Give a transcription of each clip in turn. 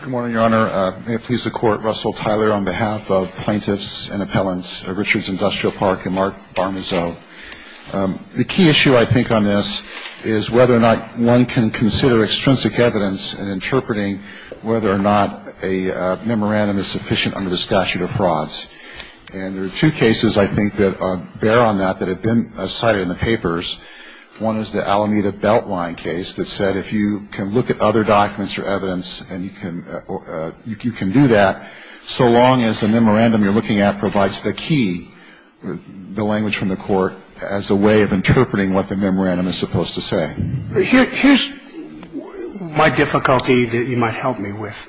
Good morning, Your Honor. May it please the Court, Russell Tyler on behalf of plaintiffs and appellants Richards Industrial Park and Mark Barmezzo. The key issue, I think, on this is whether or not one can consider extrinsic evidence in interpreting whether or not a memorandum is sufficient under the statute of frauds. And there are two cases, I think, that bear on that that have been cited in the papers. One is the Alameda Beltline case that said if you can look at other documents or evidence and you can do that, so long as the memorandum you're looking at provides the key, the language from the court, as a way of interpreting what the memorandum is supposed to say. Here's my difficulty that you might help me with.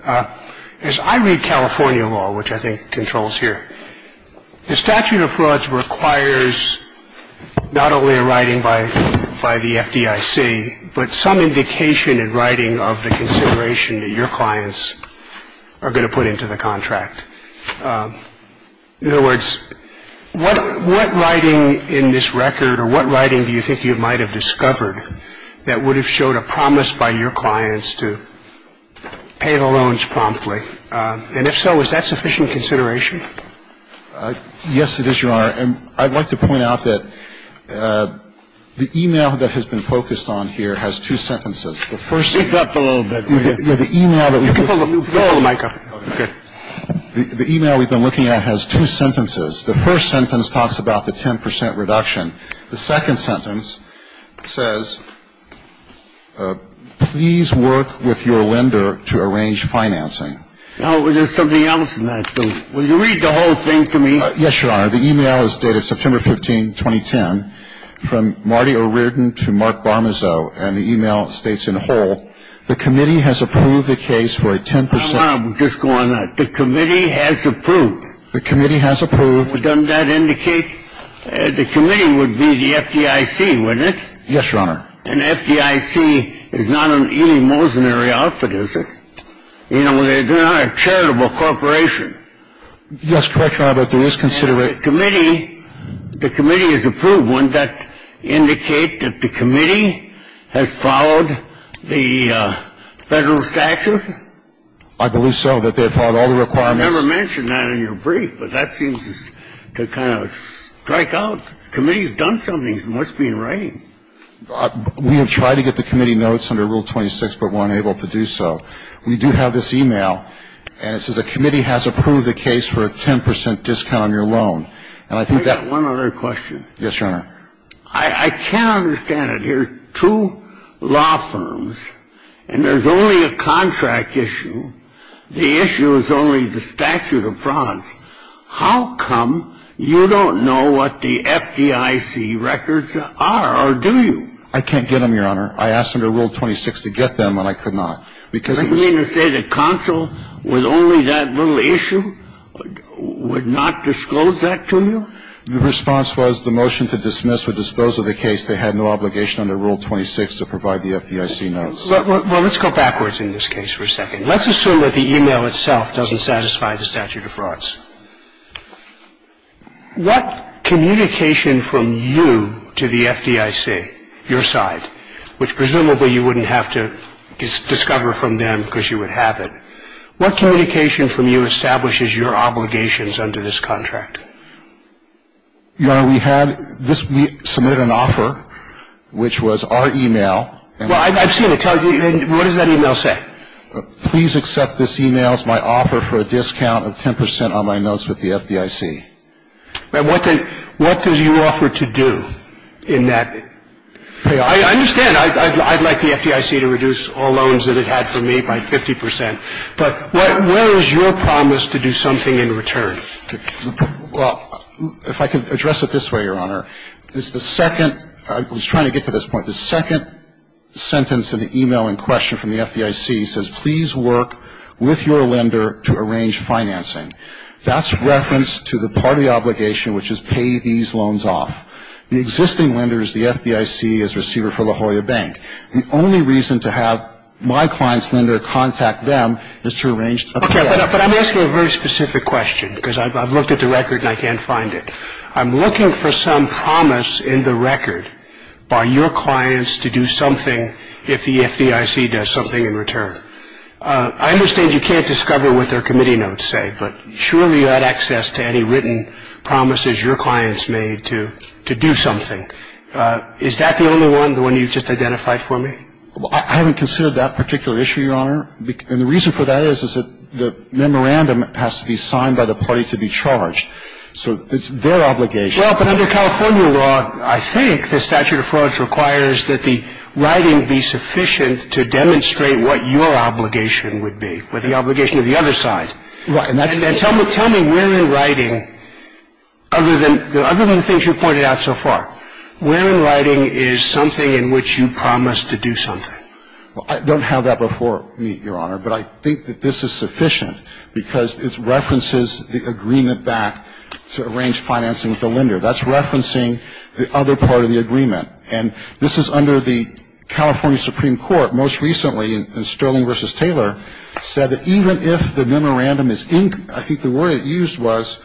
As I read California law, which I think controls here, the statute of frauds requires not only a writing by the FDIC, but some indication in writing of the consideration that your clients are going to put into the contract. In other words, what writing in this record or what writing do you think you might have discovered that would have showed a promise by your clients to pay the loans promptly? And if so, is that sufficient consideration? Yes, it is, Your Honor. And I'd like to point out that the e-mail that has been focused on here has two sentences. The first sentence. Speak up a little bit. You can pull the mic up. Okay. The e-mail we've been looking at has two sentences. The first sentence talks about the 10 percent reduction. The second sentence says, please work with your lender to arrange financing. Now, there's something else in that. Will you read the whole thing to me? Yes, Your Honor. The e-mail is dated September 15, 2010, from Marty O'Riordan to Mark Barmezzo. And the e-mail states in whole, the committee has approved the case for a 10 percent. Hold on. We'll just go on that. The committee has approved. The committee has approved. Well, doesn't that indicate the committee would be the FDIC, wouldn't it? Yes, Your Honor. And FDIC is not an Eli Mosner-y outfit, is it? You know, they're not a charitable corporation. Yes, correct, Your Honor, but there is consideration. And the committee, the committee has approved. Wouldn't that indicate that the committee has followed the Federal statute? I believe so, that they have followed all the requirements. I never mentioned that in your brief, but that seems to kind of strike out. The committee has done something. It must be in writing. We have tried to get the committee notes under Rule 26, but weren't able to do so. We do have this e-mail, and it says the committee has approved the case for a 10 percent discount on your loan. And I think that one other question. Yes, Your Honor. I can't understand it here. Two law firms, and there's only a contract issue. The issue is only the statute of promise. How come you don't know what the FDIC records are? Or do you? I can't get them, Your Honor. I asked under Rule 26 to get them, and I could not. Because it's... You mean to say the consul with only that little issue would not disclose that to you? The response was the motion to dismiss or dispose of the case, they had no obligation under Rule 26 to provide the FDIC notes. Well, let's go backwards in this case for a second. Let's assume that the e-mail itself doesn't satisfy the statute of frauds. What communication from you to the FDIC, your side, which presumably you wouldn't have to discover from them because you would have it, what communication from you establishes your obligations under this contract? Your Honor, we had this. We submitted an offer, which was our e-mail. Well, I've seen it. What does that e-mail say? Please accept this e-mail as my offer for a discount of 10 percent on my notes with the FDIC. And what did you offer to do in that? I understand. I'd like the FDIC to reduce all loans that it had for me by 50 percent. But where is your promise to do something in return? Well, if I could address it this way, Your Honor. It's the second – I was trying to get to this point. The second sentence of the e-mail in question from the FDIC says, please work with your lender to arrange financing. That's reference to the party obligation, which is pay these loans off. The existing lender is the FDIC as receiver for the Hoya Bank. The only reason to have my client's lender contact them is to arrange a payout. Okay. But I'm asking a very specific question because I've looked at the record and I can't find it. I'm looking for some promise in the record by your clients to do something if the FDIC does something in return. I understand you can't discover what their committee notes say, but surely you had access to any written promises your clients made to do something. Is that the only one, the one you've just identified for me? Well, I haven't considered that particular issue, Your Honor. And the reason for that is that the memorandum has to be signed by the party to be charged. So it's their obligation. Well, but under California law, I think the statute of frauds requires that the writing be sufficient to demonstrate what your obligation would be with the obligation of the other side. Right. And tell me where in writing, other than the things you've pointed out so far, where in writing is something in which you promise to do something? Well, I don't have that before me, Your Honor. But I think that this is sufficient because it references the agreement back to arrange financing with the lender. That's referencing the other part of the agreement. And this is under the California Supreme Court most recently in Sterling v. Taylor, said that even if the memorandum is inked, I think the word it used was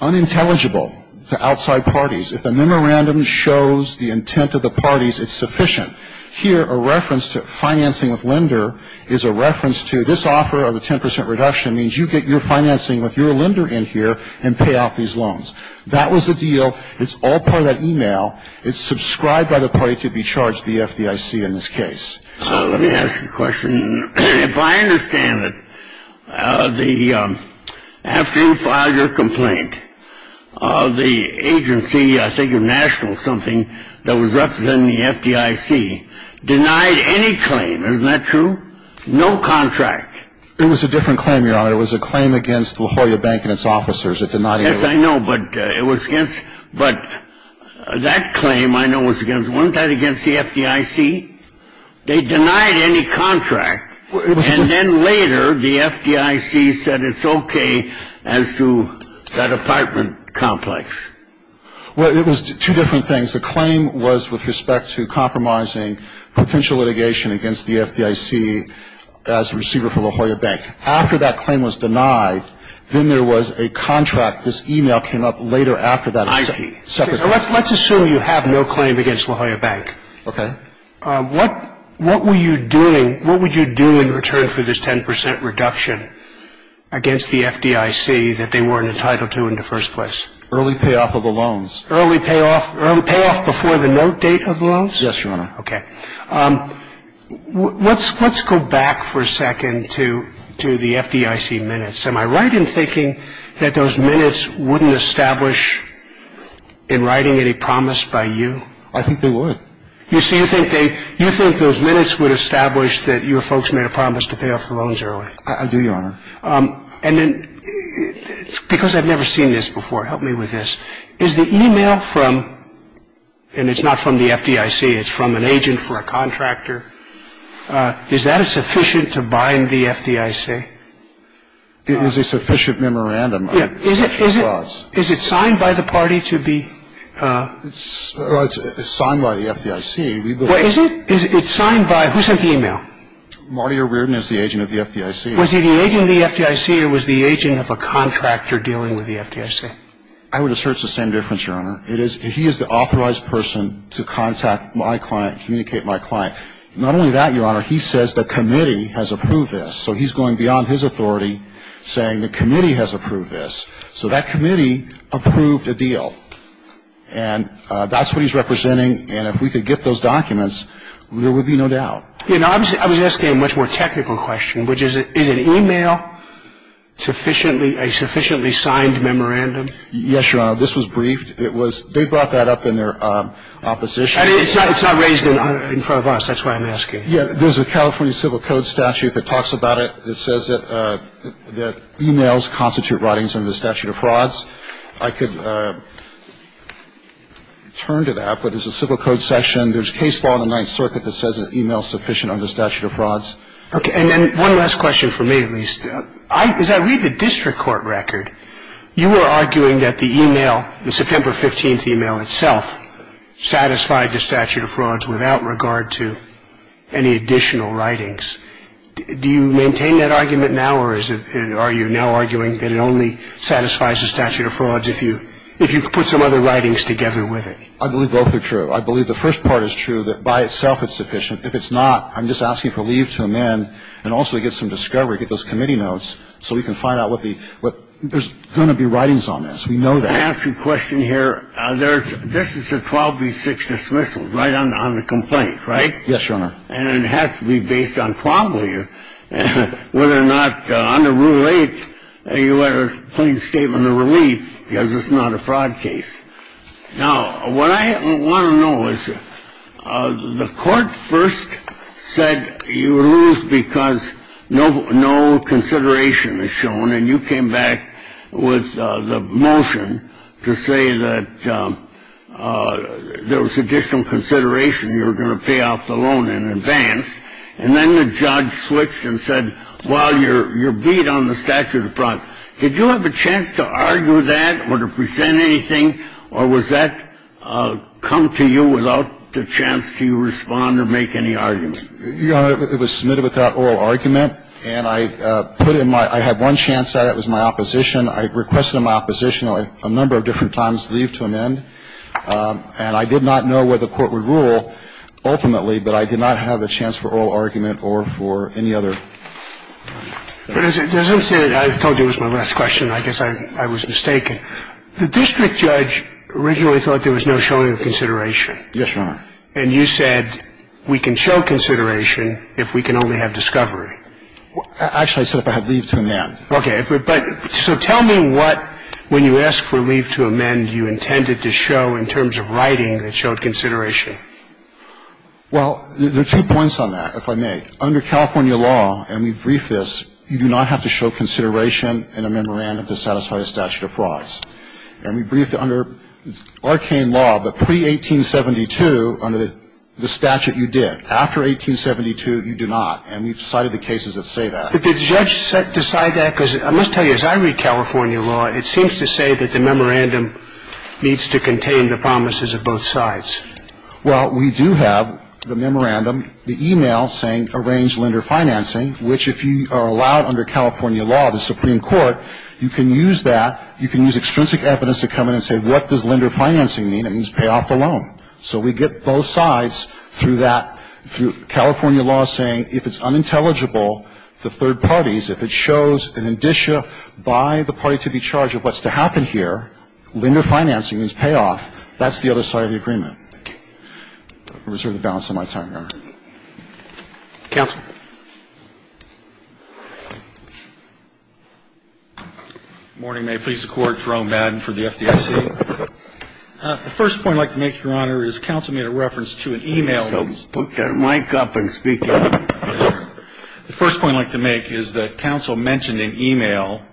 unintelligible to outside parties. If the memorandum shows the intent of the parties, it's sufficient. Here, a reference to financing with lender is a reference to this offer of a 10 percent reduction means you get your financing with your lender in here and pay off these loans. That was the deal. It's all part of that e-mail. It's subscribed by the party to be charged, the FDIC in this case. So let me ask you a question. If I understand it, after you file your complaint, the agency, I think a national something that was representing the FDIC, denied any claim. Isn't that true? No contract. It was a different claim, Your Honor. It was a claim against La Jolla Bank and its officers. It did not include. Yes, I know. But it was against. But that claim I know was against. Wasn't that against the FDIC? They denied any contract. And then later, the FDIC said it's okay as to that apartment complex. Well, it was two different things. The claim was with respect to compromising potential litigation against the FDIC as a receiver for La Jolla Bank. After that claim was denied, then there was a contract. This e-mail came up later after that. I see. Let's assume you have no claim against La Jolla Bank. Okay. What were you doing? What would you do in return for this 10 percent reduction against the FDIC that they weren't entitled to in the first place? Early payoff of the loans. Early payoff before the note date of the loans? Yes, Your Honor. Okay. Let's go back for a second to the FDIC minutes. Am I right in thinking that those minutes wouldn't establish in writing any promise by you? I think they would. You see, you think those minutes would establish that your folks made a promise to pay off the loans early? I do, Your Honor. And then because I've never seen this before, help me with this. Is the e-mail from, and it's not from the FDIC, it's from an agent for a contractor, is that sufficient to bind the FDIC? It is a sufficient memorandum. Is it signed by the party to be? It's signed by the FDIC. Is it? It's signed by, who sent the e-mail? Marty O'Riordan is the agent of the FDIC. Was he the agent of the FDIC or was the agent of a contractor dealing with the FDIC? I would assert it's the same difference, Your Honor. He is the authorized person to contact my client, communicate my client. Not only that, Your Honor, he says the committee has approved this. So he's going beyond his authority saying the committee has approved this. So that committee approved a deal. And that's what he's representing. And if we could get those documents, there would be no doubt. I was asking a much more technical question, which is, is an e-mail a sufficiently signed memorandum? Yes, Your Honor. This was briefed. They brought that up in their opposition. It's not raised in front of us. That's why I'm asking. There's a California civil code statute that talks about it. It says that e-mails constitute writings under the statute of frauds. I could turn to that, but it's a civil code section. There's case law in the Ninth Circuit that says an e-mail is sufficient under the statute of frauds. Okay. And then one last question for me, at least. As I read the district court record, you were arguing that the e-mail, the September 15th e-mail itself, satisfied the statute of frauds without regard to any additional writings. Do you maintain that argument now, or are you now arguing that it only satisfies the statute of frauds if you put some other writings together with it? I believe both are true. I believe the first part is true, that by itself it's sufficient. If it's not, I'm just asking for leave to amend and also to get some discovery, get those committee notes, so we can find out what the – there's going to be writings on this. We know that. I ask you a question here. There's – this is a 12B6 dismissal, right, on the complaint, right? Yes, Your Honor. And it has to be based on probably whether or not under Rule 8 you had a plain statement of relief, because it's not a fraud case. Now, what I want to know is the court first said you lose because no consideration is shown, and you came back with the motion to say that there was additional consideration you were going to pay off the loan in advance. And then the judge switched and said, well, you're beat on the statute of frauds. Did you have a chance to argue that or to present anything, or was that come to you without the chance to respond or make any argument? Your Honor, it was submitted without oral argument. And I put in my – I had one chance at it. It was my opposition. I requested on my opposition a number of different times to leave to amend. And I did not know where the court would rule ultimately, but I did not have a chance for oral argument or for any other. But as I'm saying, I told you it was my last question. I guess I was mistaken. The district judge originally thought there was no showing of consideration. Yes, Your Honor. And you said we can show consideration if we can only have discovery. Actually, I said if I had leave to amend. Okay. So tell me what, when you asked for leave to amend, you intended to show in terms of writing that showed consideration. Well, there are two points on that, if I may. Under California law, and we briefed this, you do not have to show consideration in a memorandum to satisfy the statute of frauds. And we briefed under arcane law, but pre-1872, under the statute, you did. After 1872, you do not. And we've cited the cases that say that. But did the judge decide that? Because I must tell you, as I read California law, it seems to say that the memorandum needs to contain the promises of both sides. Well, we do have the memorandum, the e-mail saying arrange lender financing, which if you are allowed under California law, the Supreme Court, you can use that. You can use extrinsic evidence to come in and say what does lender financing mean? It means pay off the loan. So we get both sides through that, through California law saying if it's unintelligible to third parties, if it shows an indicia by the party to be charged of what's to happen here, lender financing means pay off, that's the other side of the agreement. I reserve the balance of my time, Your Honor. Thank you. Counsel. Good morning. May it please the Court. Jerome Madden for the FDIC. The first point I'd like to make, Your Honor, is counsel made a reference to an e-mail that's put there. Put your mic up and speak up. Yes, sir. The first point I'd like to make is that counsel mentioned an e-mail,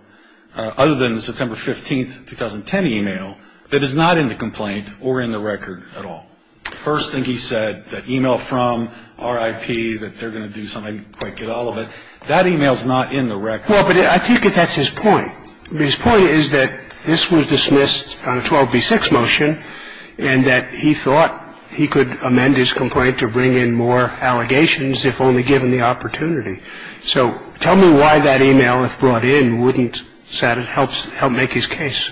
other than the September 15th, 2010 e-mail, that is not in the complaint or in the record at all. The first thing he said, that e-mail from RIP, that they're going to do something quick, get all of it, that e-mail is not in the record. Well, but I think that that's his point. His point is that this was dismissed on a 12B6 motion and that he thought he could amend his complaint to bring in more allegations if only given the opportunity. So tell me why that e-mail, if brought in, wouldn't help make his case.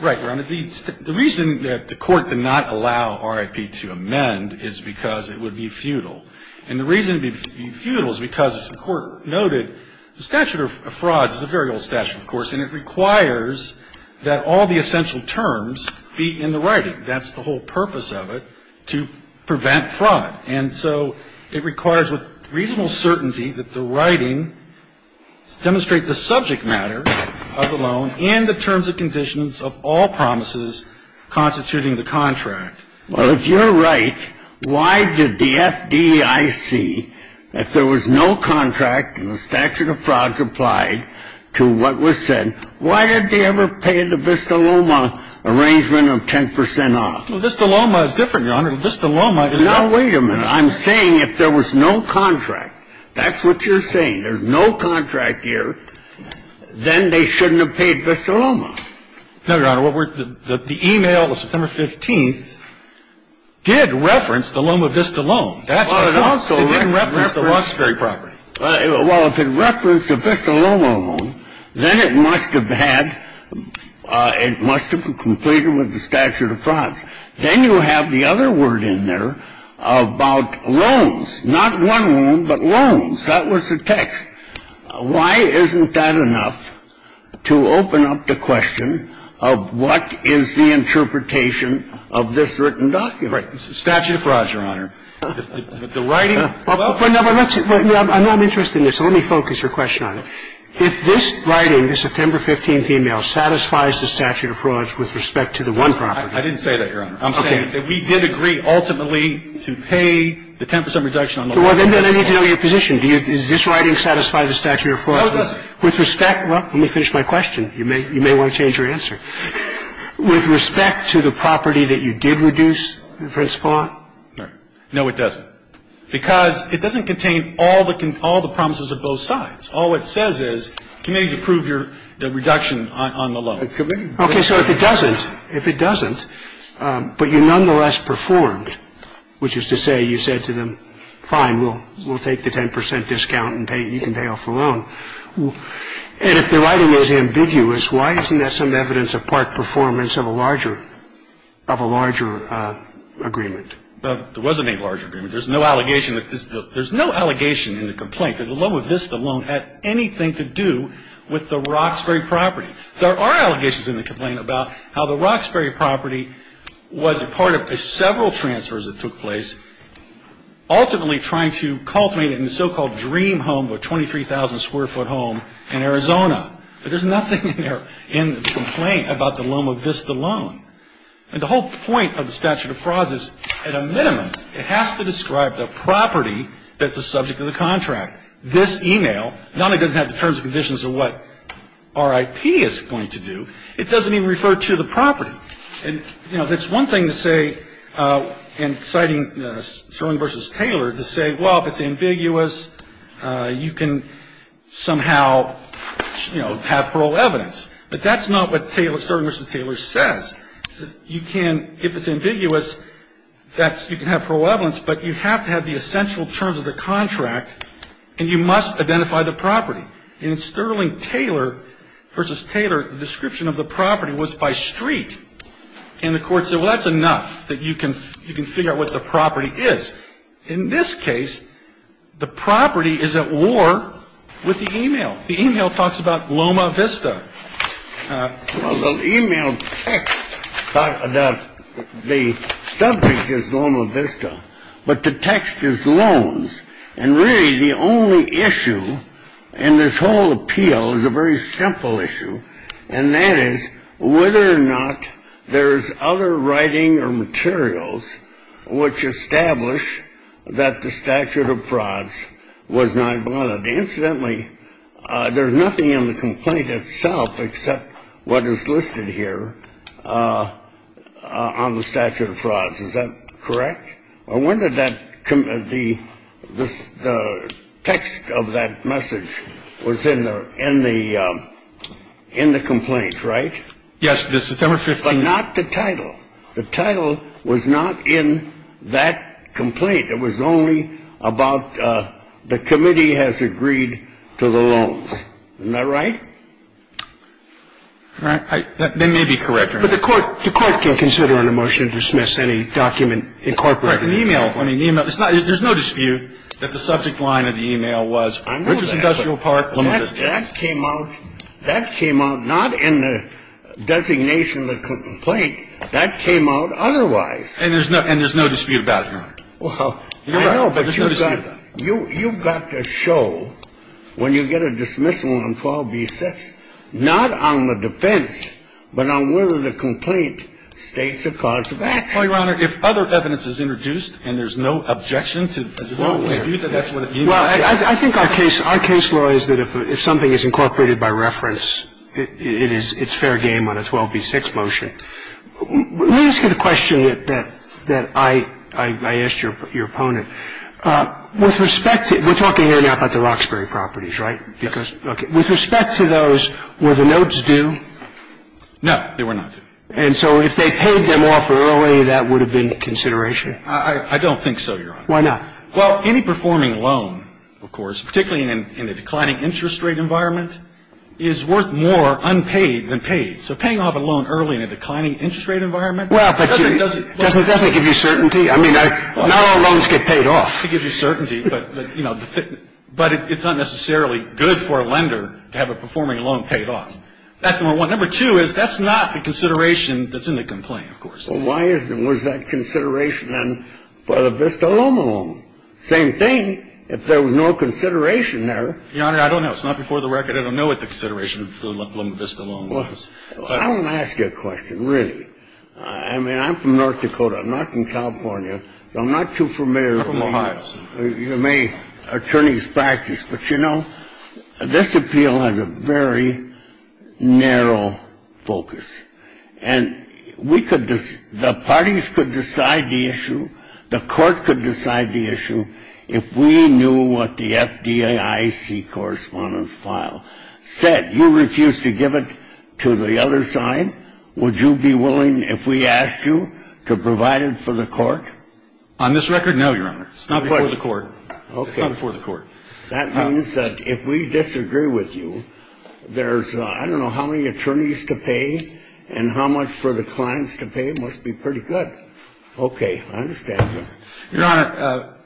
Right, Your Honor. The reason that the Court did not allow RIP to amend is because it would be futile. And the reason it would be futile is because the Court noted the statute of frauds is a very old statute, of course, and it requires that all the essential terms be in the writing. That's the whole purpose of it, to prevent fraud. And so it requires with reasonable certainty that the writing demonstrate the subject matter of the loan and the terms and conditions of all promises constituting the contract. Well, if you're right, why did the FDIC, if there was no contract and the statute of frauds applied to what was said, why did they ever pay the Vista Loma arrangement of 10 percent off? Well, Vista Loma is different, Your Honor. Vista Loma is not. Now, wait a minute. I'm saying if there was no contract. That's what you're saying. There's no contract here. Then they shouldn't have paid Vista Loma. No, Your Honor. The e-mail of September 15th did reference the Loma Vista loan. That's what it was. It didn't reference the Loxbury property. Well, if it referenced the Vista Loma loan, then it must have had, it must have completed with the statute of frauds. Not one loan, but loans. That was the text. Why isn't that enough to open up the question of what is the interpretation of this written document? Right. Statute of frauds, Your Honor. The writing of the loan. I'm not interested in this, so let me focus your question on it. If this writing, the September 15th e-mail, satisfies the statute of frauds with respect to the one property. I didn't say that, Your Honor. I'm saying that we did agree ultimately to pay the 10 percent reduction on the loan. Well, then I need to know your position. Do you, does this writing satisfy the statute of frauds? With respect, well, let me finish my question. You may want to change your answer. With respect to the property that you did reduce, Prince Paul? No. No, it doesn't. Because it doesn't contain all the promises of both sides. All it says is, committees approve your reduction on the loan. Okay, so if it doesn't, if it doesn't, but you nonetheless performed, which is to say you said to them, fine, we'll take the 10 percent discount and you can pay off the loan. And if the writing is ambiguous, why isn't that some evidence of part performance of a larger, of a larger agreement? There wasn't any larger agreement. There's no allegation that this, there's no allegation in the complaint that the low of this, the loan, had anything to do with the Roxbury property. There are allegations in the complaint about how the Roxbury property was a part of several transfers that took place, ultimately trying to cultivate it in the so-called dream home, the 23,000 square foot home in Arizona. But there's nothing in there in the complaint about the low of this, the loan. And the whole point of the statute of frauds is, at a minimum, it has to describe the property that's a subject of the contract. This email not only doesn't have the terms and conditions of what RIP is going to do, it doesn't even refer to the property. And, you know, that's one thing to say in citing Sterling v. Taylor, to say, well, if it's ambiguous, you can somehow, you know, have parole evidence. But that's not what Sterling v. Taylor says. You can, if it's ambiguous, that's, you can have parole evidence, but you have to have the essential terms of the contract and you must identify the property. In Sterling-Taylor v. Taylor, the description of the property was by street. And the court said, well, that's enough that you can figure out what the property is. In this case, the property is at war with the email. The email talks about Loma Vista. Well, the email text talks about the subject is Loma Vista, but the text is loans. And really the only issue in this whole appeal is a very simple issue, and that is whether or not there's other writing or materials which establish that the statute of frauds was not violated. Incidentally, there's nothing in the complaint itself except what is listed here on the statute of frauds. Is that correct? I wonder that the text of that message was in the complaint, right? Yes, the September 15th. But not the title. The title was not in that complaint. It was only about the committee has agreed to the loans. Isn't that right? That may be correct. But the court can consider in a motion to dismiss any document incorporated. Right. An email. There's no dispute that the subject line of the email was Richards Industrial Park, Loma Vista. That came out not in the designation of the complaint. That came out otherwise. And there's no dispute about it? Well, I know, but you've got to show when you get a dismissal on 12b-6, not on the defense, but on whether the complaint states it caused a breach. Well, Your Honor, if other evidence is introduced and there's no objection to the dispute, then that's what it means. Well, I think our case law is that if something is incorporated by reference, it's fair game on a 12b-6 motion. Let me ask you the question that I asked your opponent. With respect to we're talking here now about the Roxbury properties, right? Yes. I'm sorry. With respect to those, were the notes due? No, they were not. And so if they paid them off early, that would have been consideration? I don't think so, Your Honor. Why not? Well, any performing loan, of course, particularly in a declining interest rate environment, is worth more unpaid than paid. So paying off a loan early in a declining interest rate environment doesn't give you certainty. I mean, not all loans get paid off. Well, it's not to give you certainty, but, you know, but it's not necessarily good for a lender to have a performing loan paid off. That's number one. Number two is that's not the consideration that's in the complaint, of course. Well, why isn't it? Was that consideration then for the Vista Loan Loan? Same thing. If there was no consideration there. Your Honor, I don't know. It's not before the record. I don't know what the consideration of the Vista Loan Loan was. Well, I want to ask you a question, really. I mean, I'm from North Dakota. I'm not from California. So I'm not too familiar with attorney's practice. But, you know, this appeal has a very narrow focus. And we could the parties could decide the issue. The court could decide the issue. If we knew what the FDIC correspondence file said, you refused to give it to the other side. Would you be willing, if we asked you, to provide it for the court? On this record, no, Your Honor. It's not before the court. Okay. It's not before the court. That means that if we disagree with you, there's I don't know how many attorneys to pay and how much for the clients to pay. It must be pretty good. Okay. I understand. Your Honor,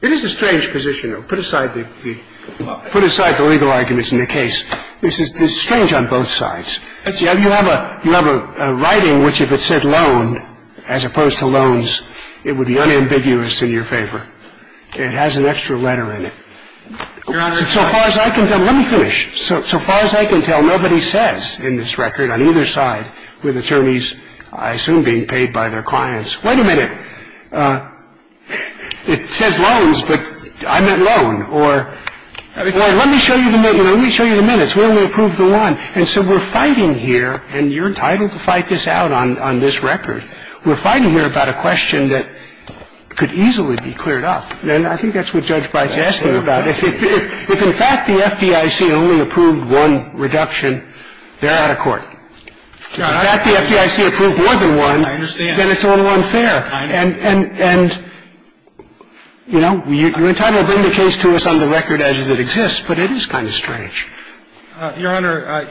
it is a strange position. Put aside the legal arguments in the case. This is strange on both sides. You have a writing which, if it said loan, as opposed to loans, it would be unambiguous in your favor. It has an extra letter in it. Your Honor. So far as I can tell. Let me finish. So far as I can tell, nobody says in this record on either side with attorneys, I assume, being paid by their clients, wait a minute. It says loans, but I meant loan. Or let me show you the minutes. We'll approve the one. And so we're fighting here, and you're entitled to fight this out on this record. We're fighting here about a question that could easily be cleared up. And I think that's what Judge Breyer is asking about. If in fact the FDIC only approved one reduction, they're out of court. If in fact the FDIC approved more than one, then it's a little unfair. And, you know, you're entitled to bring the case to us on the record as it exists, but it is kind of strange. Your Honor,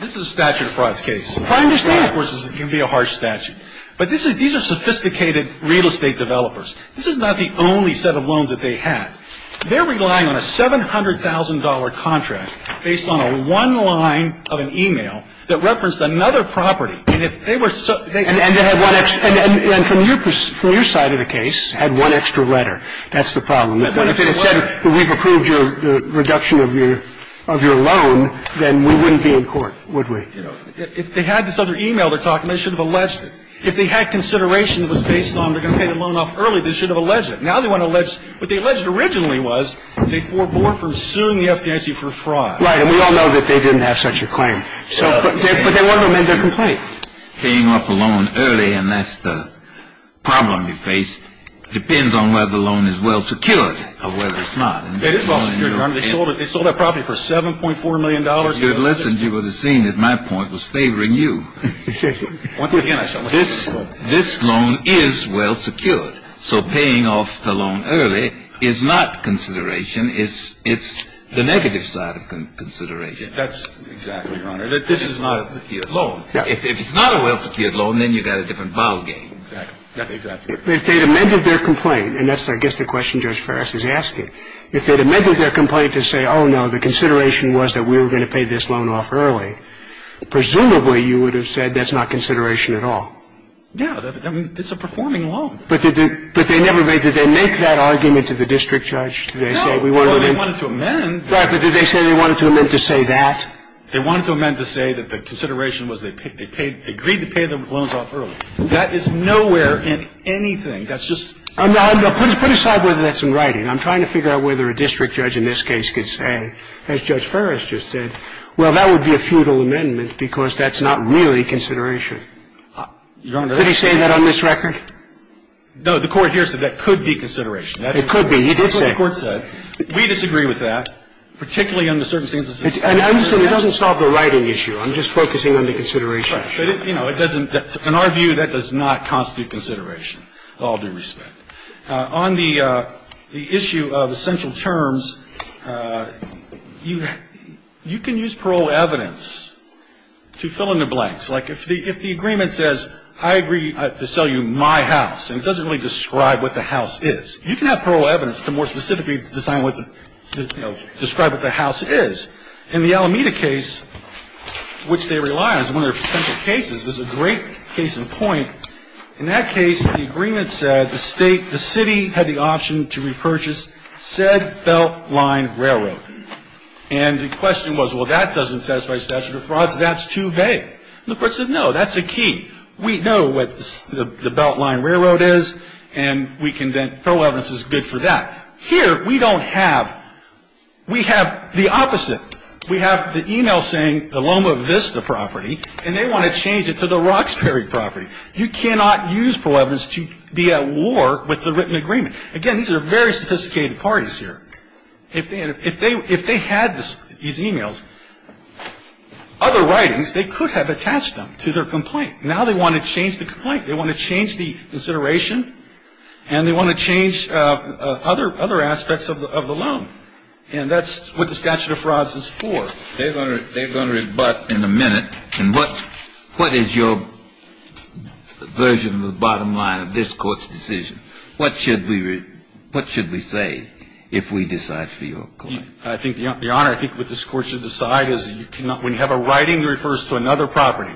this is a statute of frauds case. My understanding, of course, is it can be a harsh statute. But this is these are sophisticated real estate developers. This is not the only set of loans that they had. They're relying on a $700,000 contract based on a one line of an e-mail that referenced another property. And if they were so they. And they had one extra. And from your side of the case, had one extra letter. That's the problem. If they had said we've approved your reduction of your loan, then we wouldn't be in court, would we? You know, if they had this other e-mail, they should have alleged it. If they had consideration that was based on they're going to pay the loan off early, they should have alleged it. Now they want to allege what they alleged originally was they forbore from suing the FDIC for fraud. Right. And we all know that they didn't have such a claim. But they want to amend their complaint. Paying off a loan early and that's the problem you face depends on whether the loan is well secured or whether it's not. It is well secured, Your Honor. They sold that property for $7.4 million. Listen, you would have seen that my point was favoring you. Once again, this loan is well secured. So paying off the loan early is not consideration. It's the negative side of consideration. That's exactly right. This is not a secure loan. If it's not a well secured loan, then you've got a different ballgame. Exactly. That's exactly right. If they'd amended their complaint, and that's I guess the question Judge Farris is asking, if they'd amended their complaint to say, oh, no, the consideration was that we were going to pay this loan off early, presumably you would have said that's not consideration at all. Yeah. It's a performing loan. But did they make that argument to the district judge? No. Well, they wanted to amend. Right. But did they say they wanted to amend to say that? They wanted to amend to say that the consideration was they agreed to pay the loans off early. That is nowhere in anything. That's just ---- Put aside whether that's in writing. I'm trying to figure out whether a district judge in this case could say, as Judge Farris just said, well, that would be a futile amendment because that's not really consideration. Your Honor ---- Did he say that on this record? No. The Court here said that could be consideration. It could be. He did say ---- That's what the Court said. We disagree with that, particularly under certain circumstances. And I'm saying it doesn't solve the writing issue. I'm just focusing on the consideration issue. But, you know, it doesn't ---- in our view, that does not constitute consideration, with all due respect. On the issue of essential terms, you can use parole evidence to fill in the blanks. Like if the agreement says, I agree to sell you my house, and it doesn't really describe what the house is, you can have parole evidence to more specifically describe what the house is. In the Alameda case, which they rely on as one of their essential cases, there's a great case in point. In that case, the agreement said the State, the City had the option to repurchase said Beltline Railroad. And the question was, well, that doesn't satisfy statute of frauds. That's too vague. And the Court said, no, that's a key. We know what the Beltline Railroad is, and we can then ---- parole evidence is good for that. Here, we don't have ---- we have the opposite. We have the email saying the Loma Vista property, and they want to change it to the Roxbury property. You cannot use parole evidence to be at war with the written agreement. Again, these are very sophisticated parties here. If they had these emails, other writings, they could have attached them to their complaint. Now they want to change the complaint. They want to change the consideration, and they want to change other aspects of the loan. And that's what the statute of frauds is for. They're going to rebut in a minute. And what is your version of the bottom line of this Court's decision? What should we say if we decide for your complaint? I think, Your Honor, I think what this Court should decide is you cannot ---- when you have a writing that refers to another property,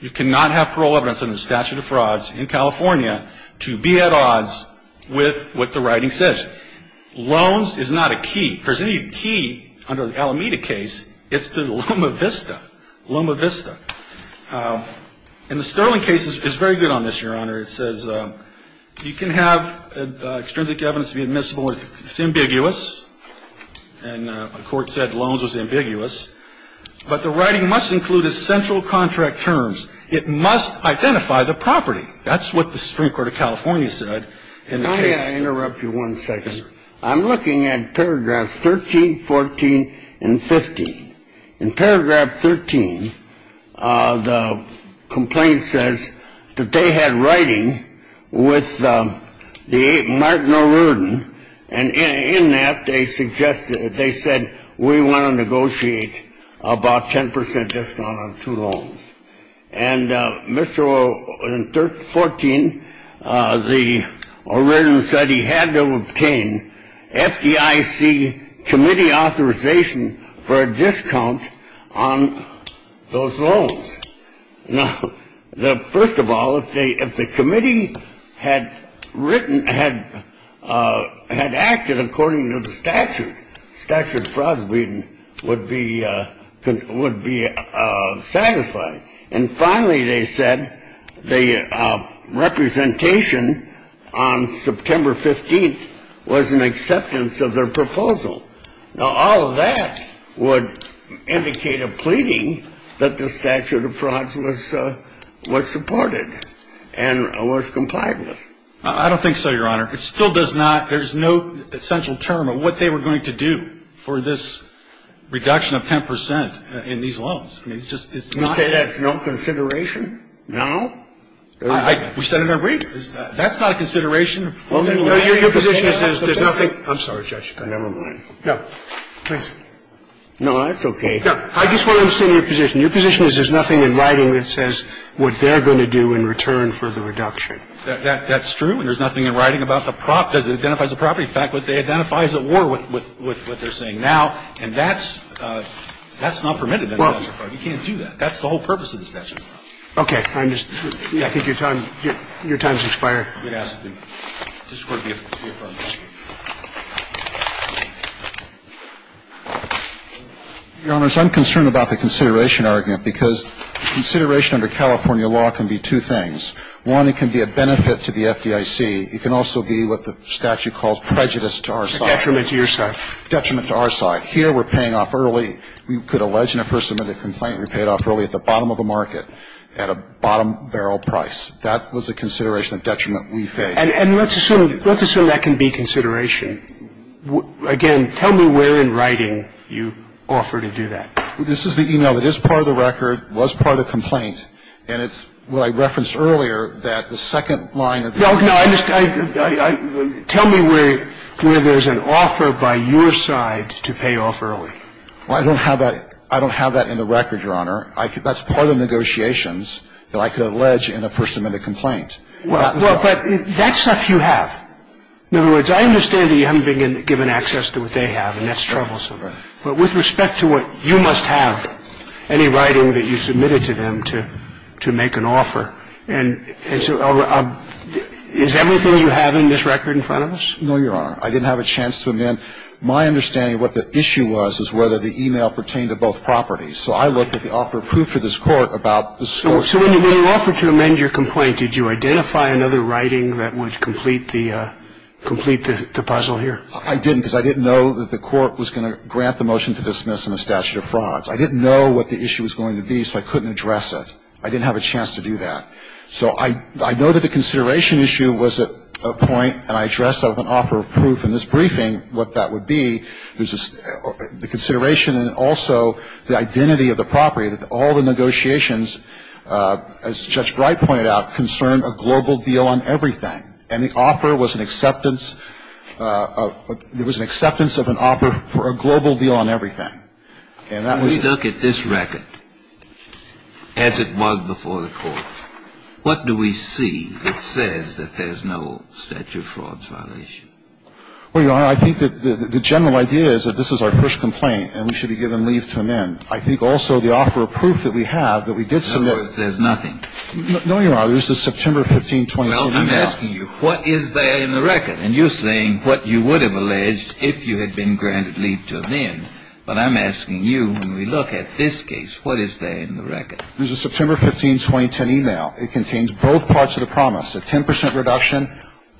you cannot have parole evidence under the statute of frauds in California to be at odds with what the writing says. Loans is not a key. If there's any key under the Alameda case, it's the Loma Vista. Loma Vista. And the Sterling case is very good on this, Your Honor. It says you can have extrinsic evidence to be admissible if it's ambiguous. And the Court said loans was ambiguous. But the writing must include essential contract terms. It must identify the property. That's what the Supreme Court of California said in the case. May I interrupt you one second? Yes, sir. I'm looking at paragraphs 13, 14, and 15. In paragraph 13, the complaint says that they had writing with the Martin O'Riordan, and in that they suggested they said we want to negotiate about 10 percent discount on two loans. And Mr. O'Riordan said he had to obtain FDIC committee authorization for a discount on those loans. Now, first of all, if the committee had written, had acted according to the statute, statute of frauds would be satisfied. And finally, they said the representation on September 15th was an acceptance of their proposal. Now, all of that would indicate a pleading that the statute of frauds was supported and was complied with. I don't think so, Your Honor. It still does not – there's no essential term of what they were going to do for this reduction of 10 percent in these loans. I mean, it's just – it's not – You say that's no consideration? No. We said it in our brief. That's not a consideration. Your position is there's nothing – I'm sorry, Judge. Never mind. No, please. No, that's okay. I just want to understand your position. Your position is there's nothing in writing that says what they're going to do in return for the reduction. That's true. There's nothing in writing about the prop that identifies the property. In fact, what they identify is at war with what they're saying now. And that's – that's not permitted under the statute of fraud. You can't do that. That's the whole purpose of the statute of frauds. Okay. I'm just – I think your time – your time has expired. Yes. This Court be affirmed. Thank you. Your Honors, I'm concerned about the consideration argument because consideration under California law can be two things. One, it can be a benefit to the FDIC. It can also be what the statute calls prejudice to our side. A detriment to your side. Detriment to our side. Here we're paying off early. You could allege in a person made a complaint and you're paid off early at the bottom of a market at a bottom barrel price. That was a consideration of detriment we faced. And let's assume – let's assume that can be consideration. Again, tell me where in writing you offer to do that. This is the email that is part of the record, was part of the complaint. And it's – well, I referenced earlier that the second line of the – No, no. I just – tell me where there's an offer by your side to pay off early. Well, I don't have that – I don't have that in the record, Your Honor. That's part of the negotiations that I could allege in a person made a complaint. Well, but that stuff you have. In other words, I understand that you haven't been given access to what they have, and that's troublesome. Right. But with respect to what you must have, any writing that you submitted to them to make an offer. And so is everything you have in this record in front of us? No, Your Honor. I didn't have a chance to amend. My understanding of what the issue was is whether the email pertained to both properties. So I looked at the offer approved for this Court about the source. So when you offered to amend your complaint, did you identify another writing that would complete the – complete the puzzle here? I didn't, because I didn't know that the Court was going to grant the motion to dismiss in the statute of frauds. I didn't know what the issue was going to be, so I couldn't address it. I didn't have a chance to do that. So I know that the consideration issue was at a point, and I addressed that with an offer of proof in this briefing, what that would be. There's the consideration and also the identity of the property, that all the negotiations, as Judge Bright pointed out, concerned a global deal on everything. And the offer was an acceptance of – there was an acceptance of an offer for a global deal on everything. And that was – We look at this record as it was before the Court. What do we see that says that there's no statute of frauds violation? Well, Your Honor, I think that the general idea is that this is our first complaint, and we should be given leave to amend. I think also the offer of proof that we have, that we did submit – In other words, there's nothing. No, Your Honor. This is September 15, 2014. Well, I'm asking you, what is there in the record? And you're saying what you would have alleged if you had been granted leave to amend. But I'm asking you, when we look at this case, what is there in the record? There's a September 15, 2010 email. It contains both parts of the promise. A 10 percent reduction,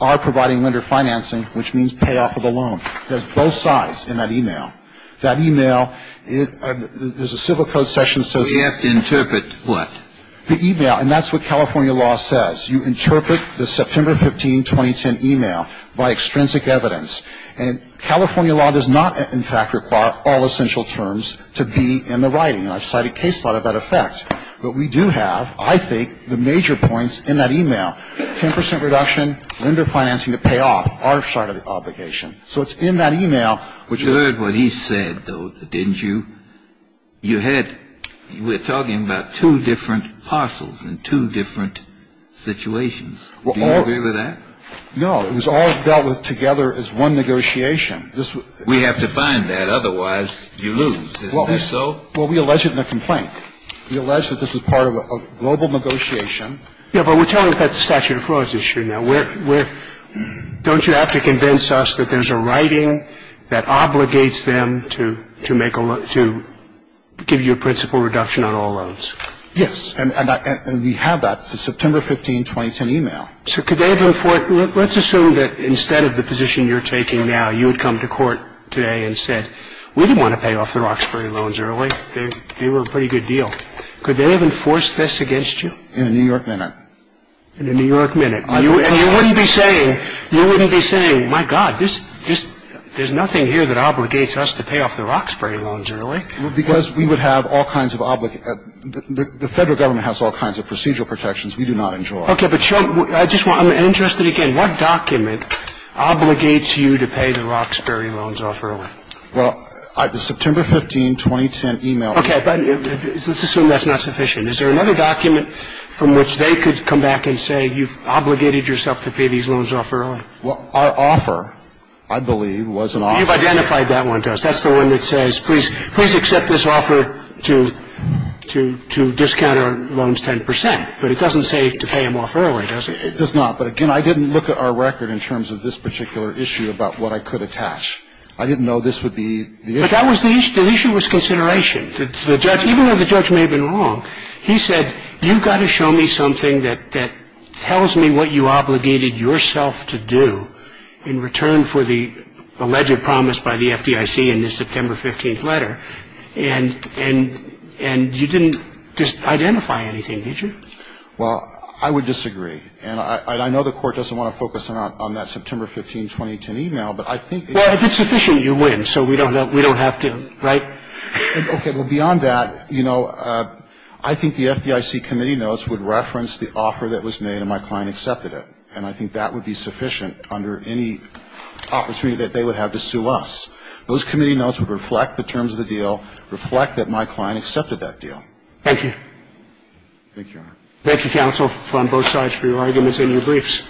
our providing lender financing, which means payoff of the loan. There's both sides in that email. That email – there's a civil code section that says – We have to interpret what? The email. And that's what California law says. You interpret the September 15, 2010 email by extrinsic evidence. And California law does not, in fact, require all essential terms to be in the writing. And I've cited case law to that effect. But we do have, I think, the major points in that email. 10 percent reduction, lender financing to payoff, our side of the obligation. So it's in that email. But you heard what he said, though, didn't you? You had – we're talking about two different parcels in two different situations. Do you agree with that? No. It was all dealt with together as one negotiation. We have to find that. Otherwise, you lose. Isn't that so? Well, we allege it in the complaint. We allege that this was part of a global negotiation. Yeah, but we're talking about the statute of frauds issue now. Don't you have to convince us that there's a writing that obligates them to make a – to give you a principal reduction on all loans? Yes. And we have that. It's a September 15, 2010 email. So could they have – let's assume that instead of the position you're taking now, you had come to court today and said, we didn't want to pay off the Roxbury loans early. They were a pretty good deal. Could they have enforced this against you? In a New York minute. In a New York minute. And you wouldn't be saying, you wouldn't be saying, my God, there's nothing here that obligates us to pay off the Roxbury loans early. Because we would have all kinds of – the federal government has all kinds of procedural protections we do not enjoy. Okay, but I'm interested again. What document obligates you to pay the Roxbury loans off early? Well, the September 15, 2010 email. Okay, but let's assume that's not sufficient. I'm sorry. I just wanted to ask you a question. Is there another document from which they could come back and say, you've obligated yourself to pay these loans off early? Well, our offer, I believe, was an offer. You've identified that one to us. That's the one that says please accept this offer to discount our loans 10 percent. But it doesn't say to pay them off early, does it? It does not. But again, I didn't look at our record in terms of this particular issue about what I could attach. I didn't know this would be the issue. But that was the issue. The issue was consideration. The judge, even though the judge may have been wrong, he said, you've got to show me something that tells me what you obligated yourself to do in return for the alleged promise by the FDIC in this September 15th letter. And you didn't identify anything, did you? Well, I would disagree. And I know the Court doesn't want to focus on that September 15, 2010 email. But I think it's sufficient. Well, if it's sufficient, you win. So we don't have to, right? Okay. Well, beyond that, you know, I think the FDIC committee notes would reference the offer that was made and my client accepted it. And I think that would be sufficient under any opportunity that they would have to sue us. Those committee notes would reflect the terms of the deal, reflect that my client accepted that deal. Thank you. Thank you, Your Honor. Thank you, counsel, on both sides for your arguments and your briefs.